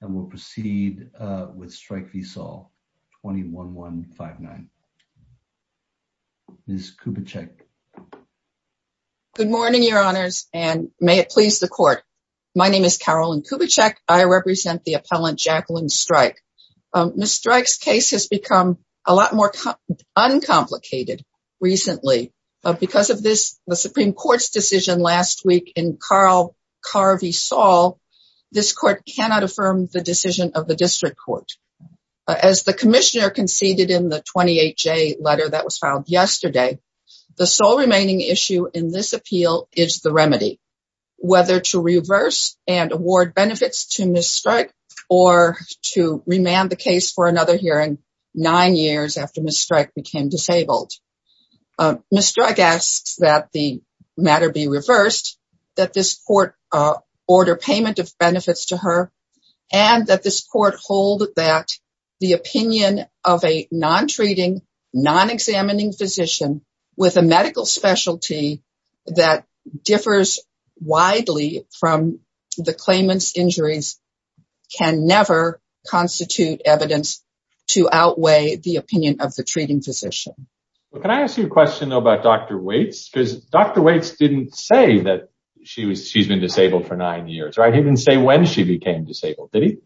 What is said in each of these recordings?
and we'll proceed with Streich v. Saul 21159. Ms. Kubitschek. Good morning your honors and may it please the court. My name is Carolyn Kubitschek. I represent the appellant Jacqueline Streich. Ms. Streich's case has become a lot more uncomplicated recently because of this Supreme Court's decision last week in Carl Carvey Saul. This court cannot affirm the decision of the district court. As the commissioner conceded in the 28-J letter that was filed yesterday, the sole remaining issue in this appeal is the remedy. Whether to reverse and award benefits to Ms. Streich or to remand the case for another hearing nine years after Ms. Streich became disabled. Ms. Streich asks that the matter be reversed, that this court order payment of benefits to her and that this court hold that the opinion of a non-treating, non-examining physician with a medical specialty that differs widely from the claimant's injuries can never constitute evidence to outweigh the opinion of the treating physician. Can I ask you a question though about Dr. Waits? Because Dr. Waits didn't say that she was she's been disabled for nine years, right? He didn't say when she became disabled, did he?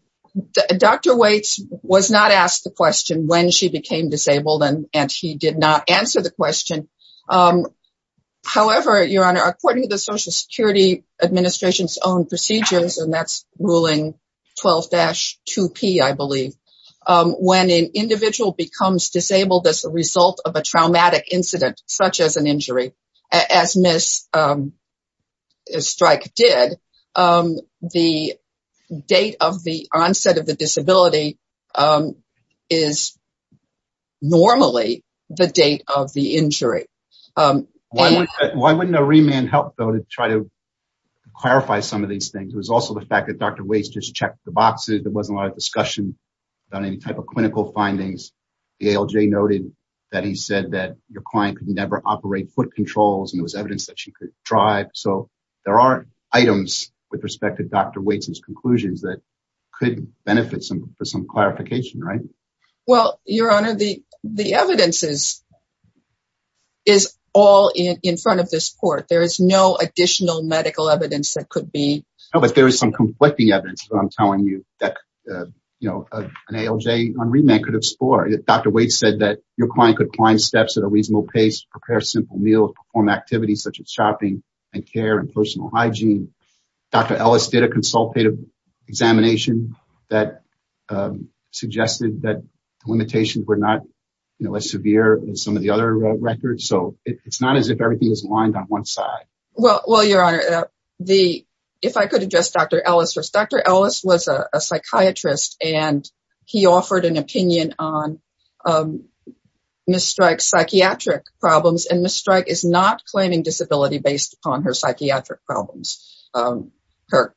Dr. Waits was not asked the question when she became disabled and and he did not answer the question. However, your honor, according to the Social Security Administration's own procedures and that's ruling 12-2P, I believe, when an individual becomes disabled as a result of a traumatic incident such as an injury as Ms. Streich did, the date of the onset of the disability is normally the date of the injury. Why wouldn't a remand help though to try to clarify some of these things? It was also the fact that Dr. Waits just checked the boxes. There wasn't a lot of discussion about any type of clinical findings. The ALJ noted that he said that your client could never operate foot controls and there was evidence that she could drive. So there are items with respect to Dr. Waits's conclusions that could benefit some for some clarification, right? Well, your honor, the the evidence is all in front of this court. There is no additional medical evidence that could be. No, but there is some conflicting evidence that I'm telling you that, you know, an ALJ on remand could explore. Dr. Waits said that your client could climb steps at a reasonable pace, prepare simple meals, perform activities such as shopping and care and personal hygiene. Dr. Ellis did a consultative examination that suggested that the limitations were not, you know, as severe as some other records. So it's not as if everything is aligned on one side. Well, your honor, if I could address Dr. Ellis first. Dr. Ellis was a psychiatrist and he offered an opinion on Ms. Strike's psychiatric problems and Ms. Strike is not claiming disability based upon her psychiatric problems. Let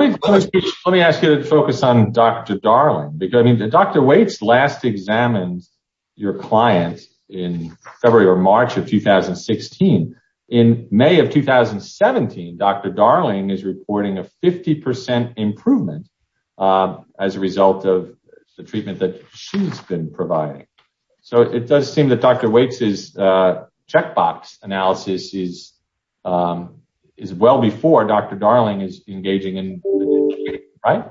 me ask you to focus on Dr. Darling. Dr. Waits last examined your client in February or March of 2016. In May of 2017, Dr. Darling is reporting a 50 percent improvement as a result of the treatment that she's been providing. So it does seem that Dr. Waits's checkbox analysis is well before Dr. Darling is engaging in, right?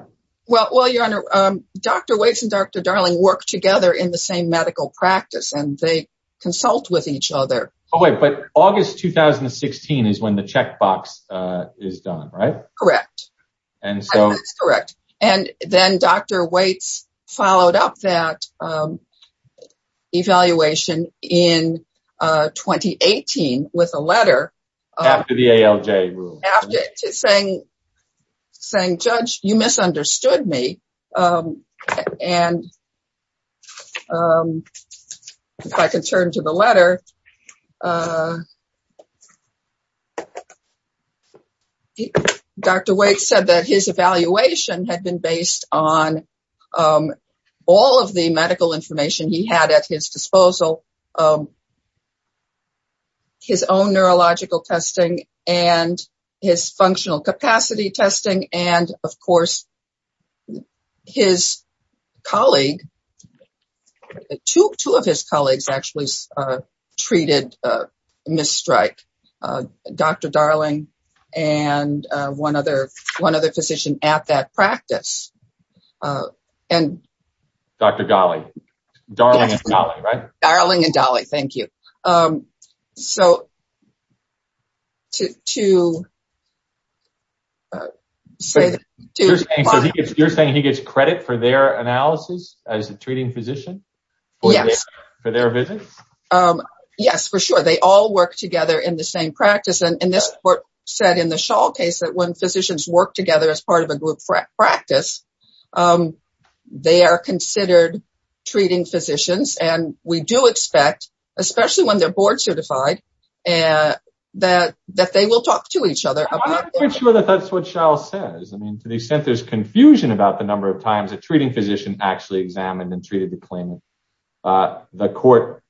Well, your honor, Dr. Waits and Dr. Darling work together in the same medical practice and they consult with each other. Oh wait, but August 2016 is when the checkbox is done, right? Correct. That's correct. And then Dr. Waits followed up that evaluation in 2018 with a letter after the ALJ rule. After saying, judge, you misunderstood me. And if I can turn to the letter, Dr. Waits said that his evaluation had been based on all of the medical information he had at his testing and his functional capacity testing. And of course, his colleague, two of his colleagues actually treated Ms. Strike, Dr. Darling and one other physician at that time. You're saying he gets credit for their analysis as a treating physician for their vision? Yes, for sure. They all work together in the same practice. And this court said in the Schall case that when physicians work together as part of a group practice, they are considered treating physicians. And we do expect, especially when they're board certified, that they will talk to each other. I'm not quite sure that that's what Schall says. I mean, to the extent there's confusion about the number of times a treating physician actually examined and treated the claimant. The court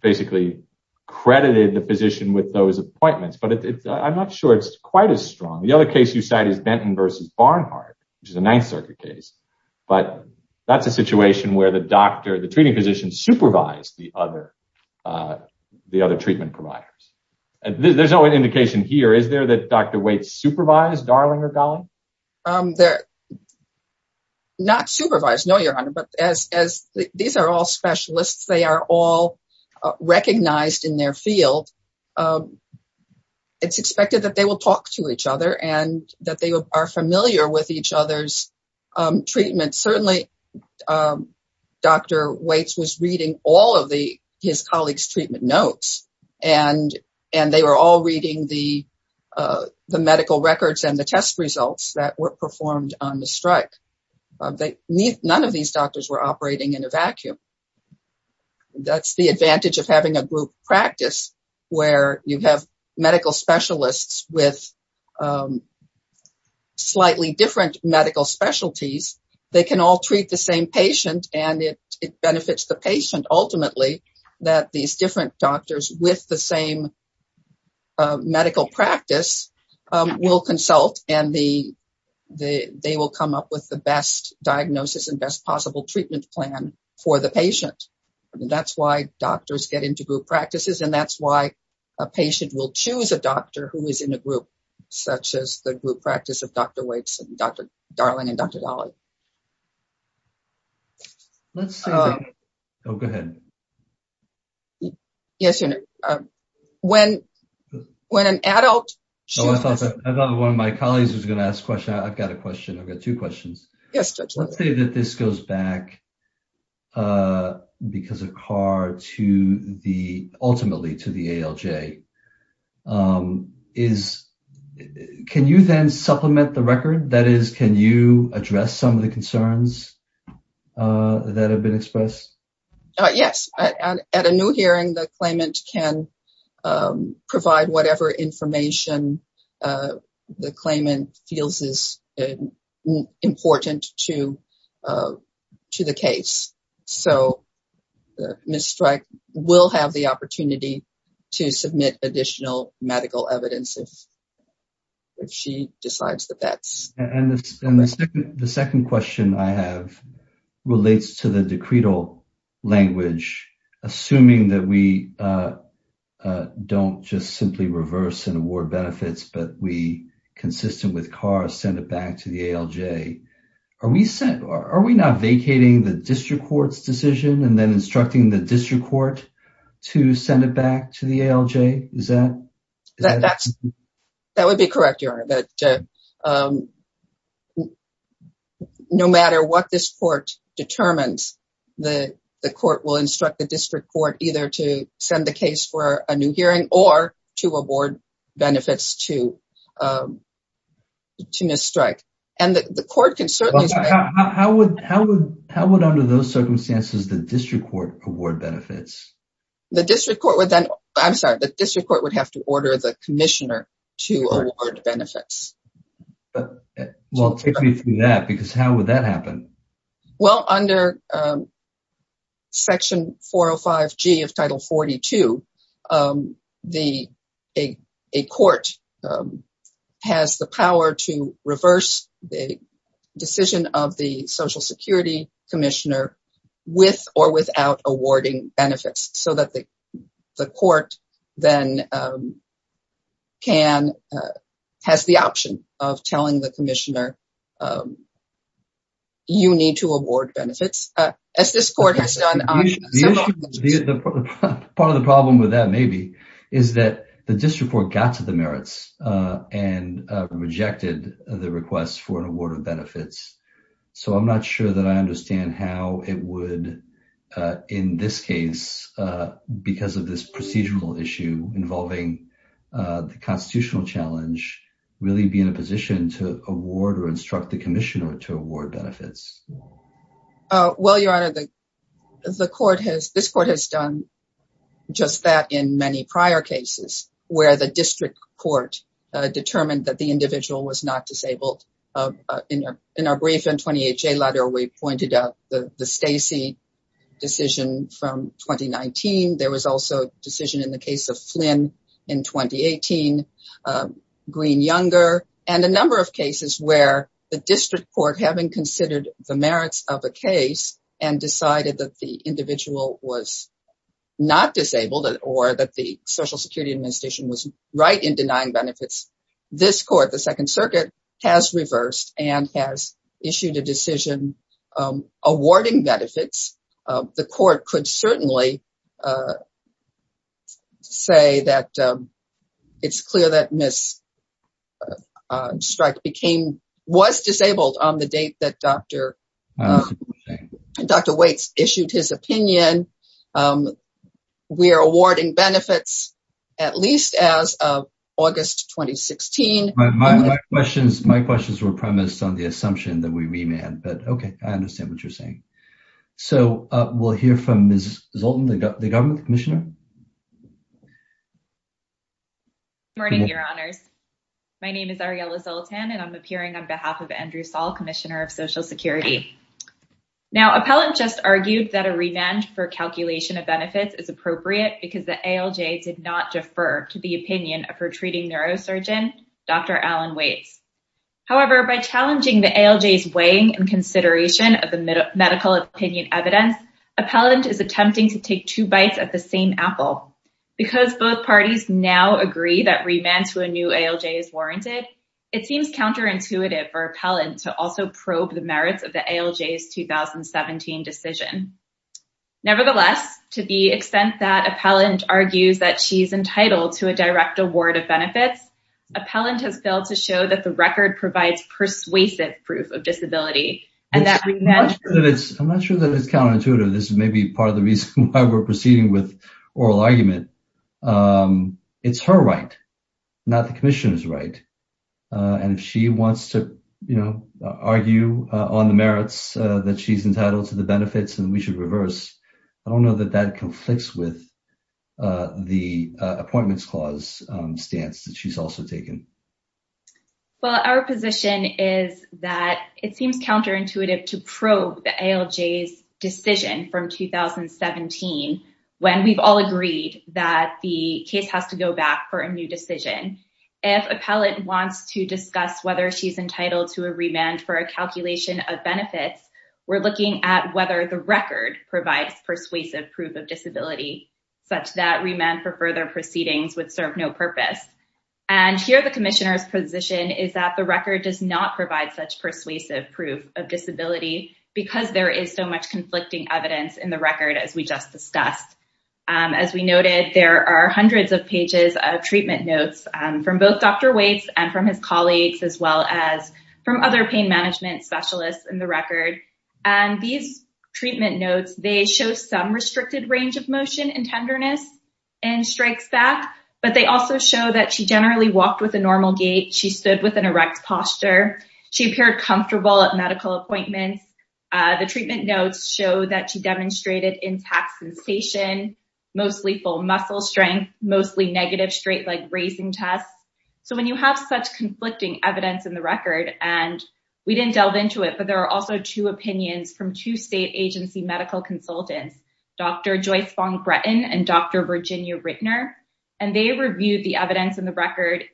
basically credited the physician with those appointments, but I'm not sure it's quite as strong. The other case you said is Benton versus Barnhart, which is a Ninth Circuit case. But that's a situation where the doctor, the treating physician supervised the other treatment providers. There's no indication here. Is there that Dr. Waits supervised Darling or Darling? They're not supervised. No, Your Honor. But as these are all specialists, they are all recognized in their field. And it's expected that they will talk to each other and that they are familiar with each other's treatment. Certainly, Dr. Waits was reading all of his colleagues' treatment notes, and they were all reading the medical records and the test results that were performed on the strike. None of these doctors were operating in a vacuum. That's the advantage of having a group practice. Where you have medical specialists with slightly different medical specialties, they can all treat the same patient. And it benefits the patient, ultimately, that these different doctors with the same medical practice will consult and they will come up with the best diagnosis and best possible treatment plan for the patient. That's why doctors get into group practices. And that's why a patient will choose a doctor who is in a group, such as the group practice of Dr. Waits and Dr. Darling and Dr. Dolly. Oh, go ahead. Yes, Your Honor. When an adult... I thought one of my colleagues was going to ask a question. I've got a question. I've got two questions. Let's say that this goes back ultimately to the ALJ. Can you then supplement the record? That is, can you address some of the concerns that have been expressed? Yes. At a new hearing, the claimant can provide whatever information the claimant feels is important to the case. So, Ms. Streich will have the opportunity to submit additional medical evidence if she decides that that's... And the second question I have relates to the decretal language. Assuming that we don't just simply reverse and award benefits, but we, consistent with CAR, send it back to the ALJ, are we not vacating the district court's decision and then instructing the district court to send it back to the ALJ? Is that... That would be correct, Your Honor. But no matter what this court determines, the court will instruct the district court either to send the case for a new hearing or to award benefits to Ms. Streich. And the court can certainly... How would, under those circumstances, the district court award benefits? The district court would then... I'm sorry. The district court would have to order the commissioner to award benefits. Well, take me through that because how would that happen? Well, under Section 405G of Title 42, a court has the power to reverse the decision of the Social Security Commissioner with or without awarding benefits so that the court then has the option of telling the commissioner you need to award benefits, as this court has done. Part of the problem with that maybe is that the district court got to the merits and rejected the request for an award of benefits. So I'm not sure that I understand how it would, in this case, because of this procedural issue involving the constitutional challenge, really be in a position to award or instruct the commissioner to award benefits. Well, Your Honor, the court has... This court has done just that in many prior cases, where the district court determined that the individual was not disabled. In our brief N-28J letter, we pointed out the Stacey decision from 2019. There was also a decision in the case of Flynn in 2018, Green-Younger, and a number of cases where the district court, having considered the merits of a case and decided that the individual was not disabled or that the Social Security Administration was right in denying benefits, this court, the Second Circuit, has reversed and has issued a decision awarding benefits. The court could certainly say that it's clear that Ms. Streich was disabled on the date that Dr. Weitz issued his opinion. We are awarding benefits at least as of August 2016. My questions were premised on the assumption that we remand, but okay, I understand what you're saying. So we'll hear from Ms. Zoltan, the government commissioner. Good morning, Your Honors. My name is Ariella Zoltan, and I'm appearing on behalf of Andrew Zoltan, Commissioner of Social Security. Appellant just argued that a remand for calculation of benefits is appropriate because the ALJ did not defer to the opinion of her treating neurosurgeon, Dr. Alan Weitz. However, by challenging the ALJ's weighing and consideration of the medical opinion evidence, Appellant is attempting to take two bites at the same apple. Because both parties now agree that remand to a new ALJ is warranted, it seems counterintuitive for Appellant to also probe the merits of the ALJ's 2017 decision. Nevertheless, to the extent that Appellant argues that she's entitled to a direct award of benefits, Appellant has failed to show that the record provides persuasive proof of disability. I'm not sure that it's counterintuitive. This is maybe part of the reason why we're proceeding with argue on the merits that she's entitled to the benefits and we should reverse. I don't know that that conflicts with the Appointments Clause stance that she's also taken. Well, our position is that it seems counterintuitive to probe the ALJ's decision from 2017 when we've all agreed that the case has to go back for a new decision. If Appellant wants to discuss whether she's entitled to a remand for a calculation of benefits, we're looking at whether the record provides persuasive proof of disability, such that remand for further proceedings would serve no purpose. And here the Commissioner's position is that the record does not provide such persuasive proof of disability because there is so much conflicting evidence in the record as we just discussed. As we noted, there are hundreds of pages of treatment notes from both Dr. Waits and from his colleagues, as well as from other pain management specialists in the record. These treatment notes, they show some restricted range of motion and tenderness and strikes back, but they also show that she generally walked with a normal gait. She stood with an erect posture. She appeared comfortable at medical appointments. The treatment notes show that she demonstrated intact sensation, mostly full muscle strength, mostly negative straight leg raising tests. So when you have such conflicting evidence in the record, and we didn't delve into it, but there are also two opinions from two state agency medical consultants, Dr. Joyce Fong-Breton and Dr. Virginia Rittner, and they reviewed the evidence in the record,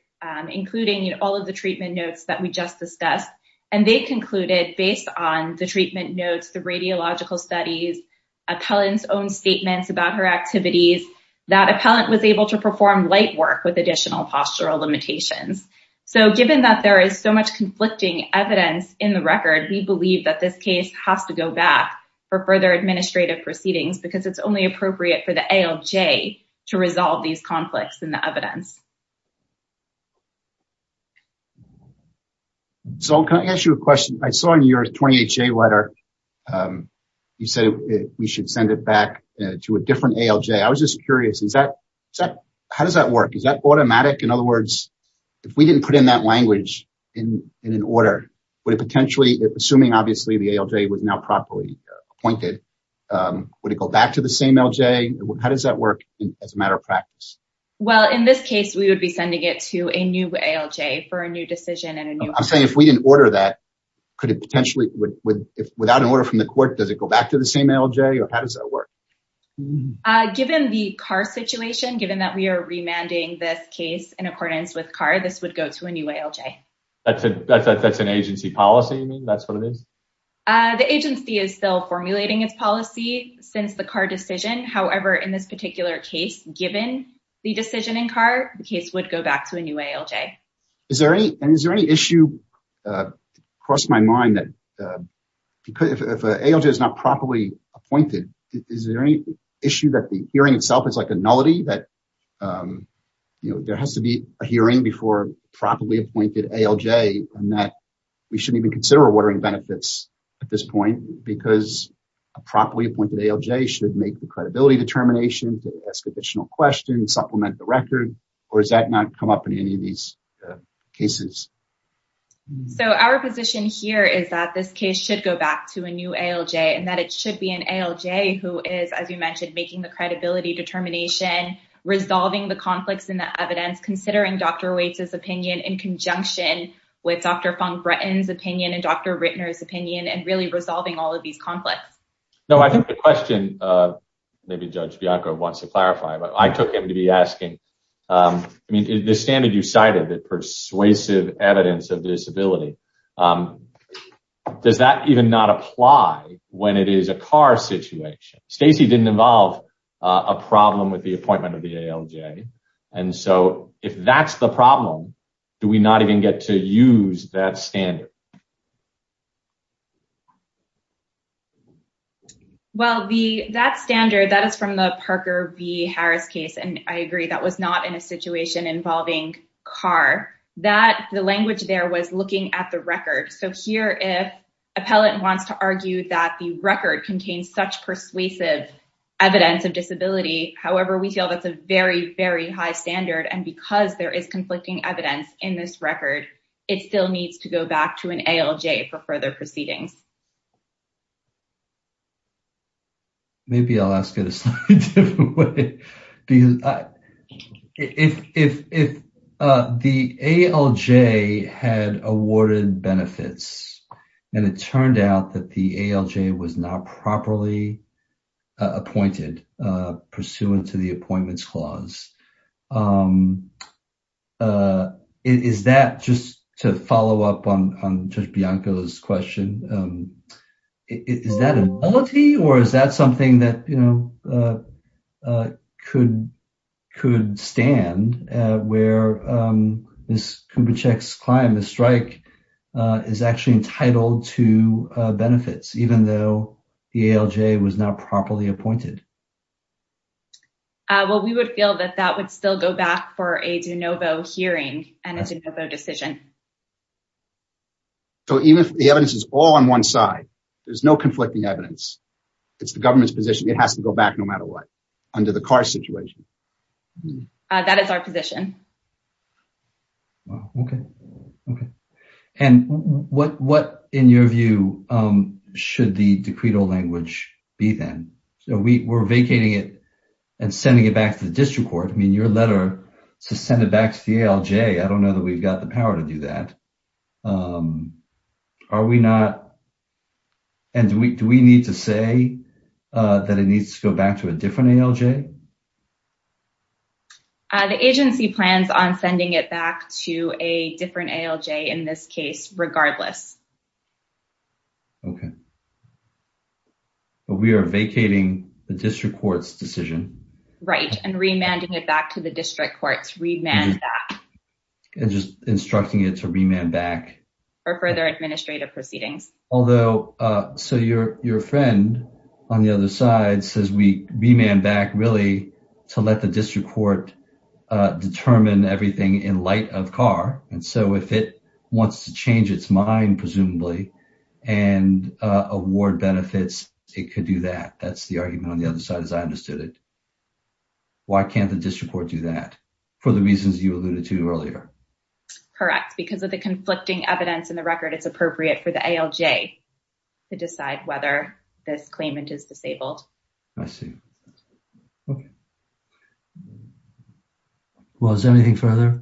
including all of the treatment notes that we just discussed. And they concluded based on the treatment notes, the radiological studies, appellant's own statements about her activities, that appellant was able to perform light work with additional postural limitations. So given that there is so much conflicting evidence in the record, we believe that this case has to go back for further administrative proceedings, because it's only appropriate for the ALJ to resolve these conflicts in the evidence. So, can I ask you a question? I saw in your 28-J letter, you said we should send it back to a different ALJ. I was just curious, how does that work? Is that automatic? In other words, if we didn't put in that language in an order, would it potentially, assuming obviously the ALJ was now properly appointed, would it go back to the same ALJ? How does that work as a matter of a new ALJ for a new decision? I'm saying if we didn't order that, could it potentially, without an order from the court, does it go back to the same ALJ, or how does that work? Given the Carr situation, given that we are remanding this case in accordance with Carr, this would go to a new ALJ. That's an agency policy, that's what it is? The agency is still formulating its policy since the Carr decision. However, in this particular case, given the decision in Carr, the case would go back to a new ALJ. Is there any issue that crossed my mind that if an ALJ is not properly appointed, is there any issue that the hearing itself is like a nullity, that there has to be a hearing before a properly appointed ALJ, and that we shouldn't even consider ordering benefits at this point because a properly appointed ALJ should make the credibility determination to ask additional questions, supplement the record, or does that not come up in any of these cases? So our position here is that this case should go back to a new ALJ, and that it should be an ALJ who is, as you mentioned, making the credibility determination, resolving the conflicts in the evidence, considering Dr. Waits' opinion in conjunction with Dr. Fung-Breton's opinion and Dr. Rittner's opinion, and really resolving all of these conflicts. No, I think the question, maybe Judge Bianco wants to clarify, but I took him to be asking, I mean, the standard you cited, the persuasive evidence of disability, does that even not apply when it is a Carr situation? Stacy didn't involve a problem with the appointment of the ALJ, and so if that's the problem, do we not even get to use that standard? Well, that standard, that is from the Parker v. Harris case, and I agree that was not in a situation involving Carr. That, the language there was looking at the record. So here if appellant wants to argue that the record contains such persuasive evidence of disability, however, we feel that's a very, very high standard, and because there is conflicting evidence in this record, it still needs to go back to an ALJ for further proceedings. Maybe I'll ask it a slightly different way, because if the ALJ had awarded benefits, and it turned out that the ALJ was not properly appointed pursuant to the appointments clause, is that, just to follow up on Judge Bianco's question, is that a nullity, or is that something that could stand where Ms. Kubitschek's client, Ms. Streich, is actually entitled to benefits, even though the ALJ was not properly appointed? Well, we would feel that that would still go back for a de novo hearing and a de novo decision. So even if the evidence is all on one side, there's no conflicting evidence, it's the government's position it has to go back no matter what, under the Carr situation? That is our position. Wow, okay, okay. And what, in your view, should the decreto language be then? So we, we're vacating it and sending it back to the district court. I mean, your letter to send it back to the ALJ, I don't know that we've got the power to do that. Are we not, and do we need to say that it needs to go back to a different ALJ? The agency plans on sending it back to a different ALJ in this case regardless. Okay, but we are vacating the district court's decision. Right, and remanding it back to the district courts, remand that. And just instructing it to remand back. For further administrative proceedings. Although, so your, your friend on the other side says we remand back really to let the district court determine everything in light of Carr. And so if it wants to change its mind, presumably, and award benefits, it could do that. That's the argument on the other side as I understood it. Why can't the district court do that? For the reasons you alluded to earlier. Correct, because of the conflicting evidence in the record, it's appropriate for the ALJ to decide whether this claimant is disabled. I see. Okay. Well, is there anything further,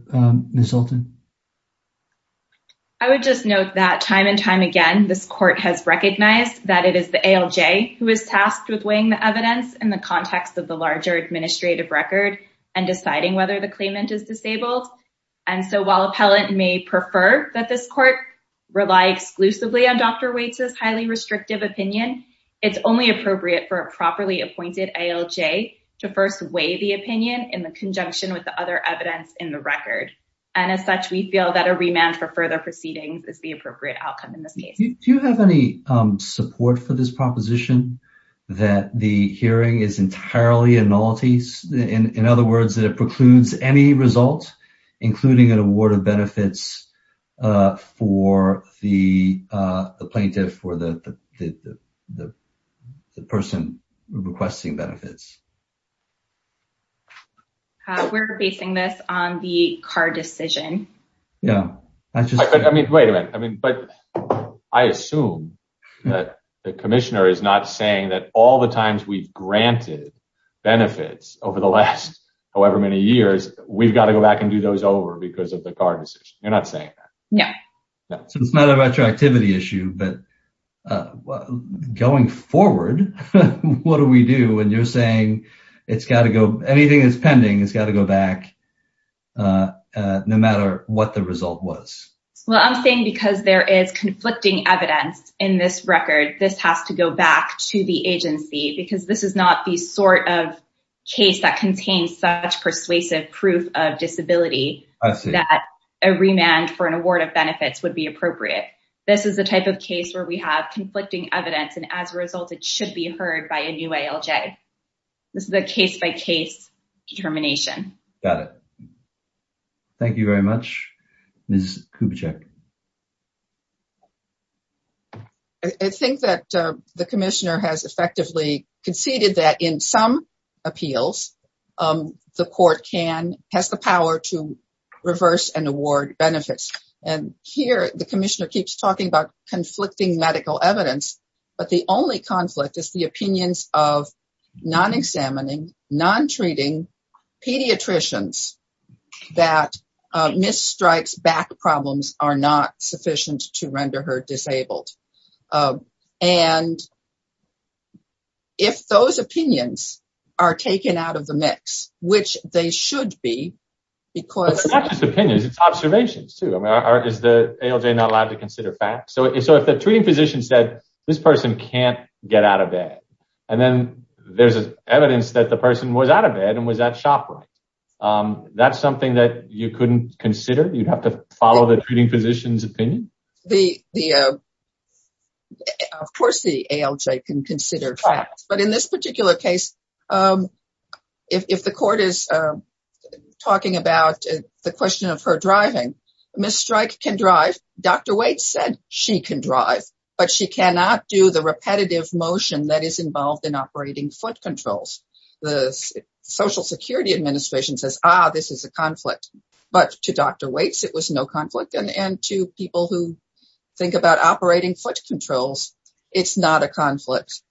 Ms. Hulton? I would just note that time and time again, this court has recognized that it is the ALJ who is tasked with weighing the evidence in the context of the larger administrative record and deciding whether the claimant is disabled. And so while appellant may prefer that this court rely exclusively on Dr. Waits' highly restrictive opinion, it's only appropriate for a properly appointed ALJ to first weigh the opinion in the conjunction with the other evidence in the record. And as such, we feel that a remand for further proceedings is the appropriate outcome in this case. Do you have any support for this proposition that the hearing is entirely a nullity? In other words, for the plaintiff or the person requesting benefits? We're basing this on the Carr decision. Yeah. I mean, wait a minute. I mean, but I assume that the commissioner is not saying that all the times we've granted benefits over the last however many years, we've got to go back and do those over because of the Carr decision. You're not saying that? No. So it's not a retroactivity issue, but going forward, what do we do when you're saying anything that's pending has got to go back no matter what the result was? Well, I'm saying because there is conflicting evidence in this record, this has to go back to the agency because this is not the sort of case that contains such persuasive proof of disability. That a remand for an award of benefits would be appropriate. This is the type of case where we have conflicting evidence and as a result, it should be heard by a new ALJ. This is a case-by-case determination. Got it. Thank you very much, Ms. Kubitschek. I think that the commissioner has effectively conceded that in some appeals, the court can, has the power to reverse and award benefits. And here, the commissioner keeps talking about conflicting medical evidence, but the only conflict is the opinions of non-examining, non-treating pediatricians that Ms. Stripe's back problems are not sufficient to render her disabled. And if those opinions are taken out of the mix, which they should be because... It's not just opinions, it's observations too. I mean, is the ALJ not allowed to consider facts? So if the treating physician said, this person can't get out of bed, and then there's evidence that the person was out of bed and was at shop right. That's something that you couldn't consider? You'd have to follow the treating physician's opinion? Of course the ALJ can consider facts, but in this particular case, if the court is talking about the question of her driving, Ms. Strike can drive. Dr. Waits said she can drive, but she cannot do the repetitive motion that is involved in operating foot controls. The Social Security Administration says, ah, this is a conflict, but to Dr. Waits, it was no conflict. And to people who think about operating foot controls, it's not a conflict.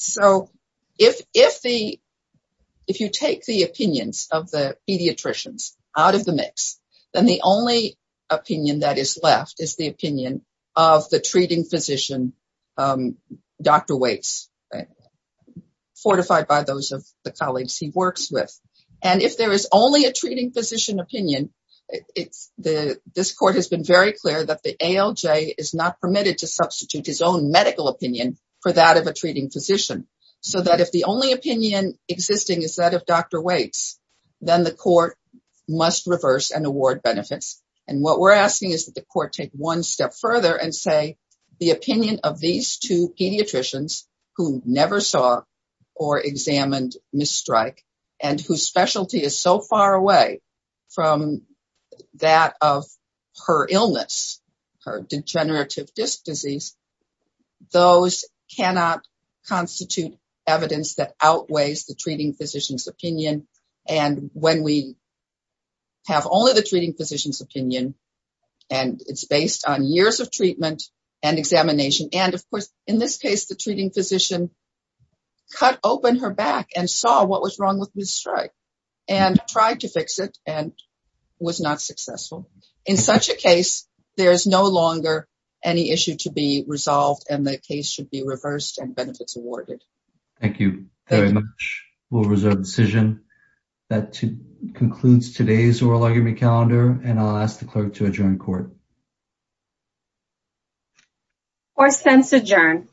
So if you take the opinions of the pediatricians out of the mix, then the only opinion that is of the treating physician, Dr. Waits, fortified by those of the colleagues he works with. And if there is only a treating physician opinion, this court has been very clear that the ALJ is not permitted to substitute his own medical opinion for that of a treating physician. So that if the only opinion existing is that of Dr. Waits, then the court must reverse and award benefits. And we're asking that the court take one step further and say the opinion of these two pediatricians who never saw or examined Ms. Strike and whose specialty is so far away from that of her illness, her degenerative disc disease, those cannot constitute evidence that outweighs the treating physician's opinion. And it's based on years of treatment and examination. And of course, in this case, the treating physician cut open her back and saw what was wrong with Ms. Strike and tried to fix it and was not successful. In such a case, there is no longer any issue to be resolved and the case should be reversed and benefits awarded. Thank you very much. We'll and I'll ask the clerk to adjourn court. Court sends adjourn.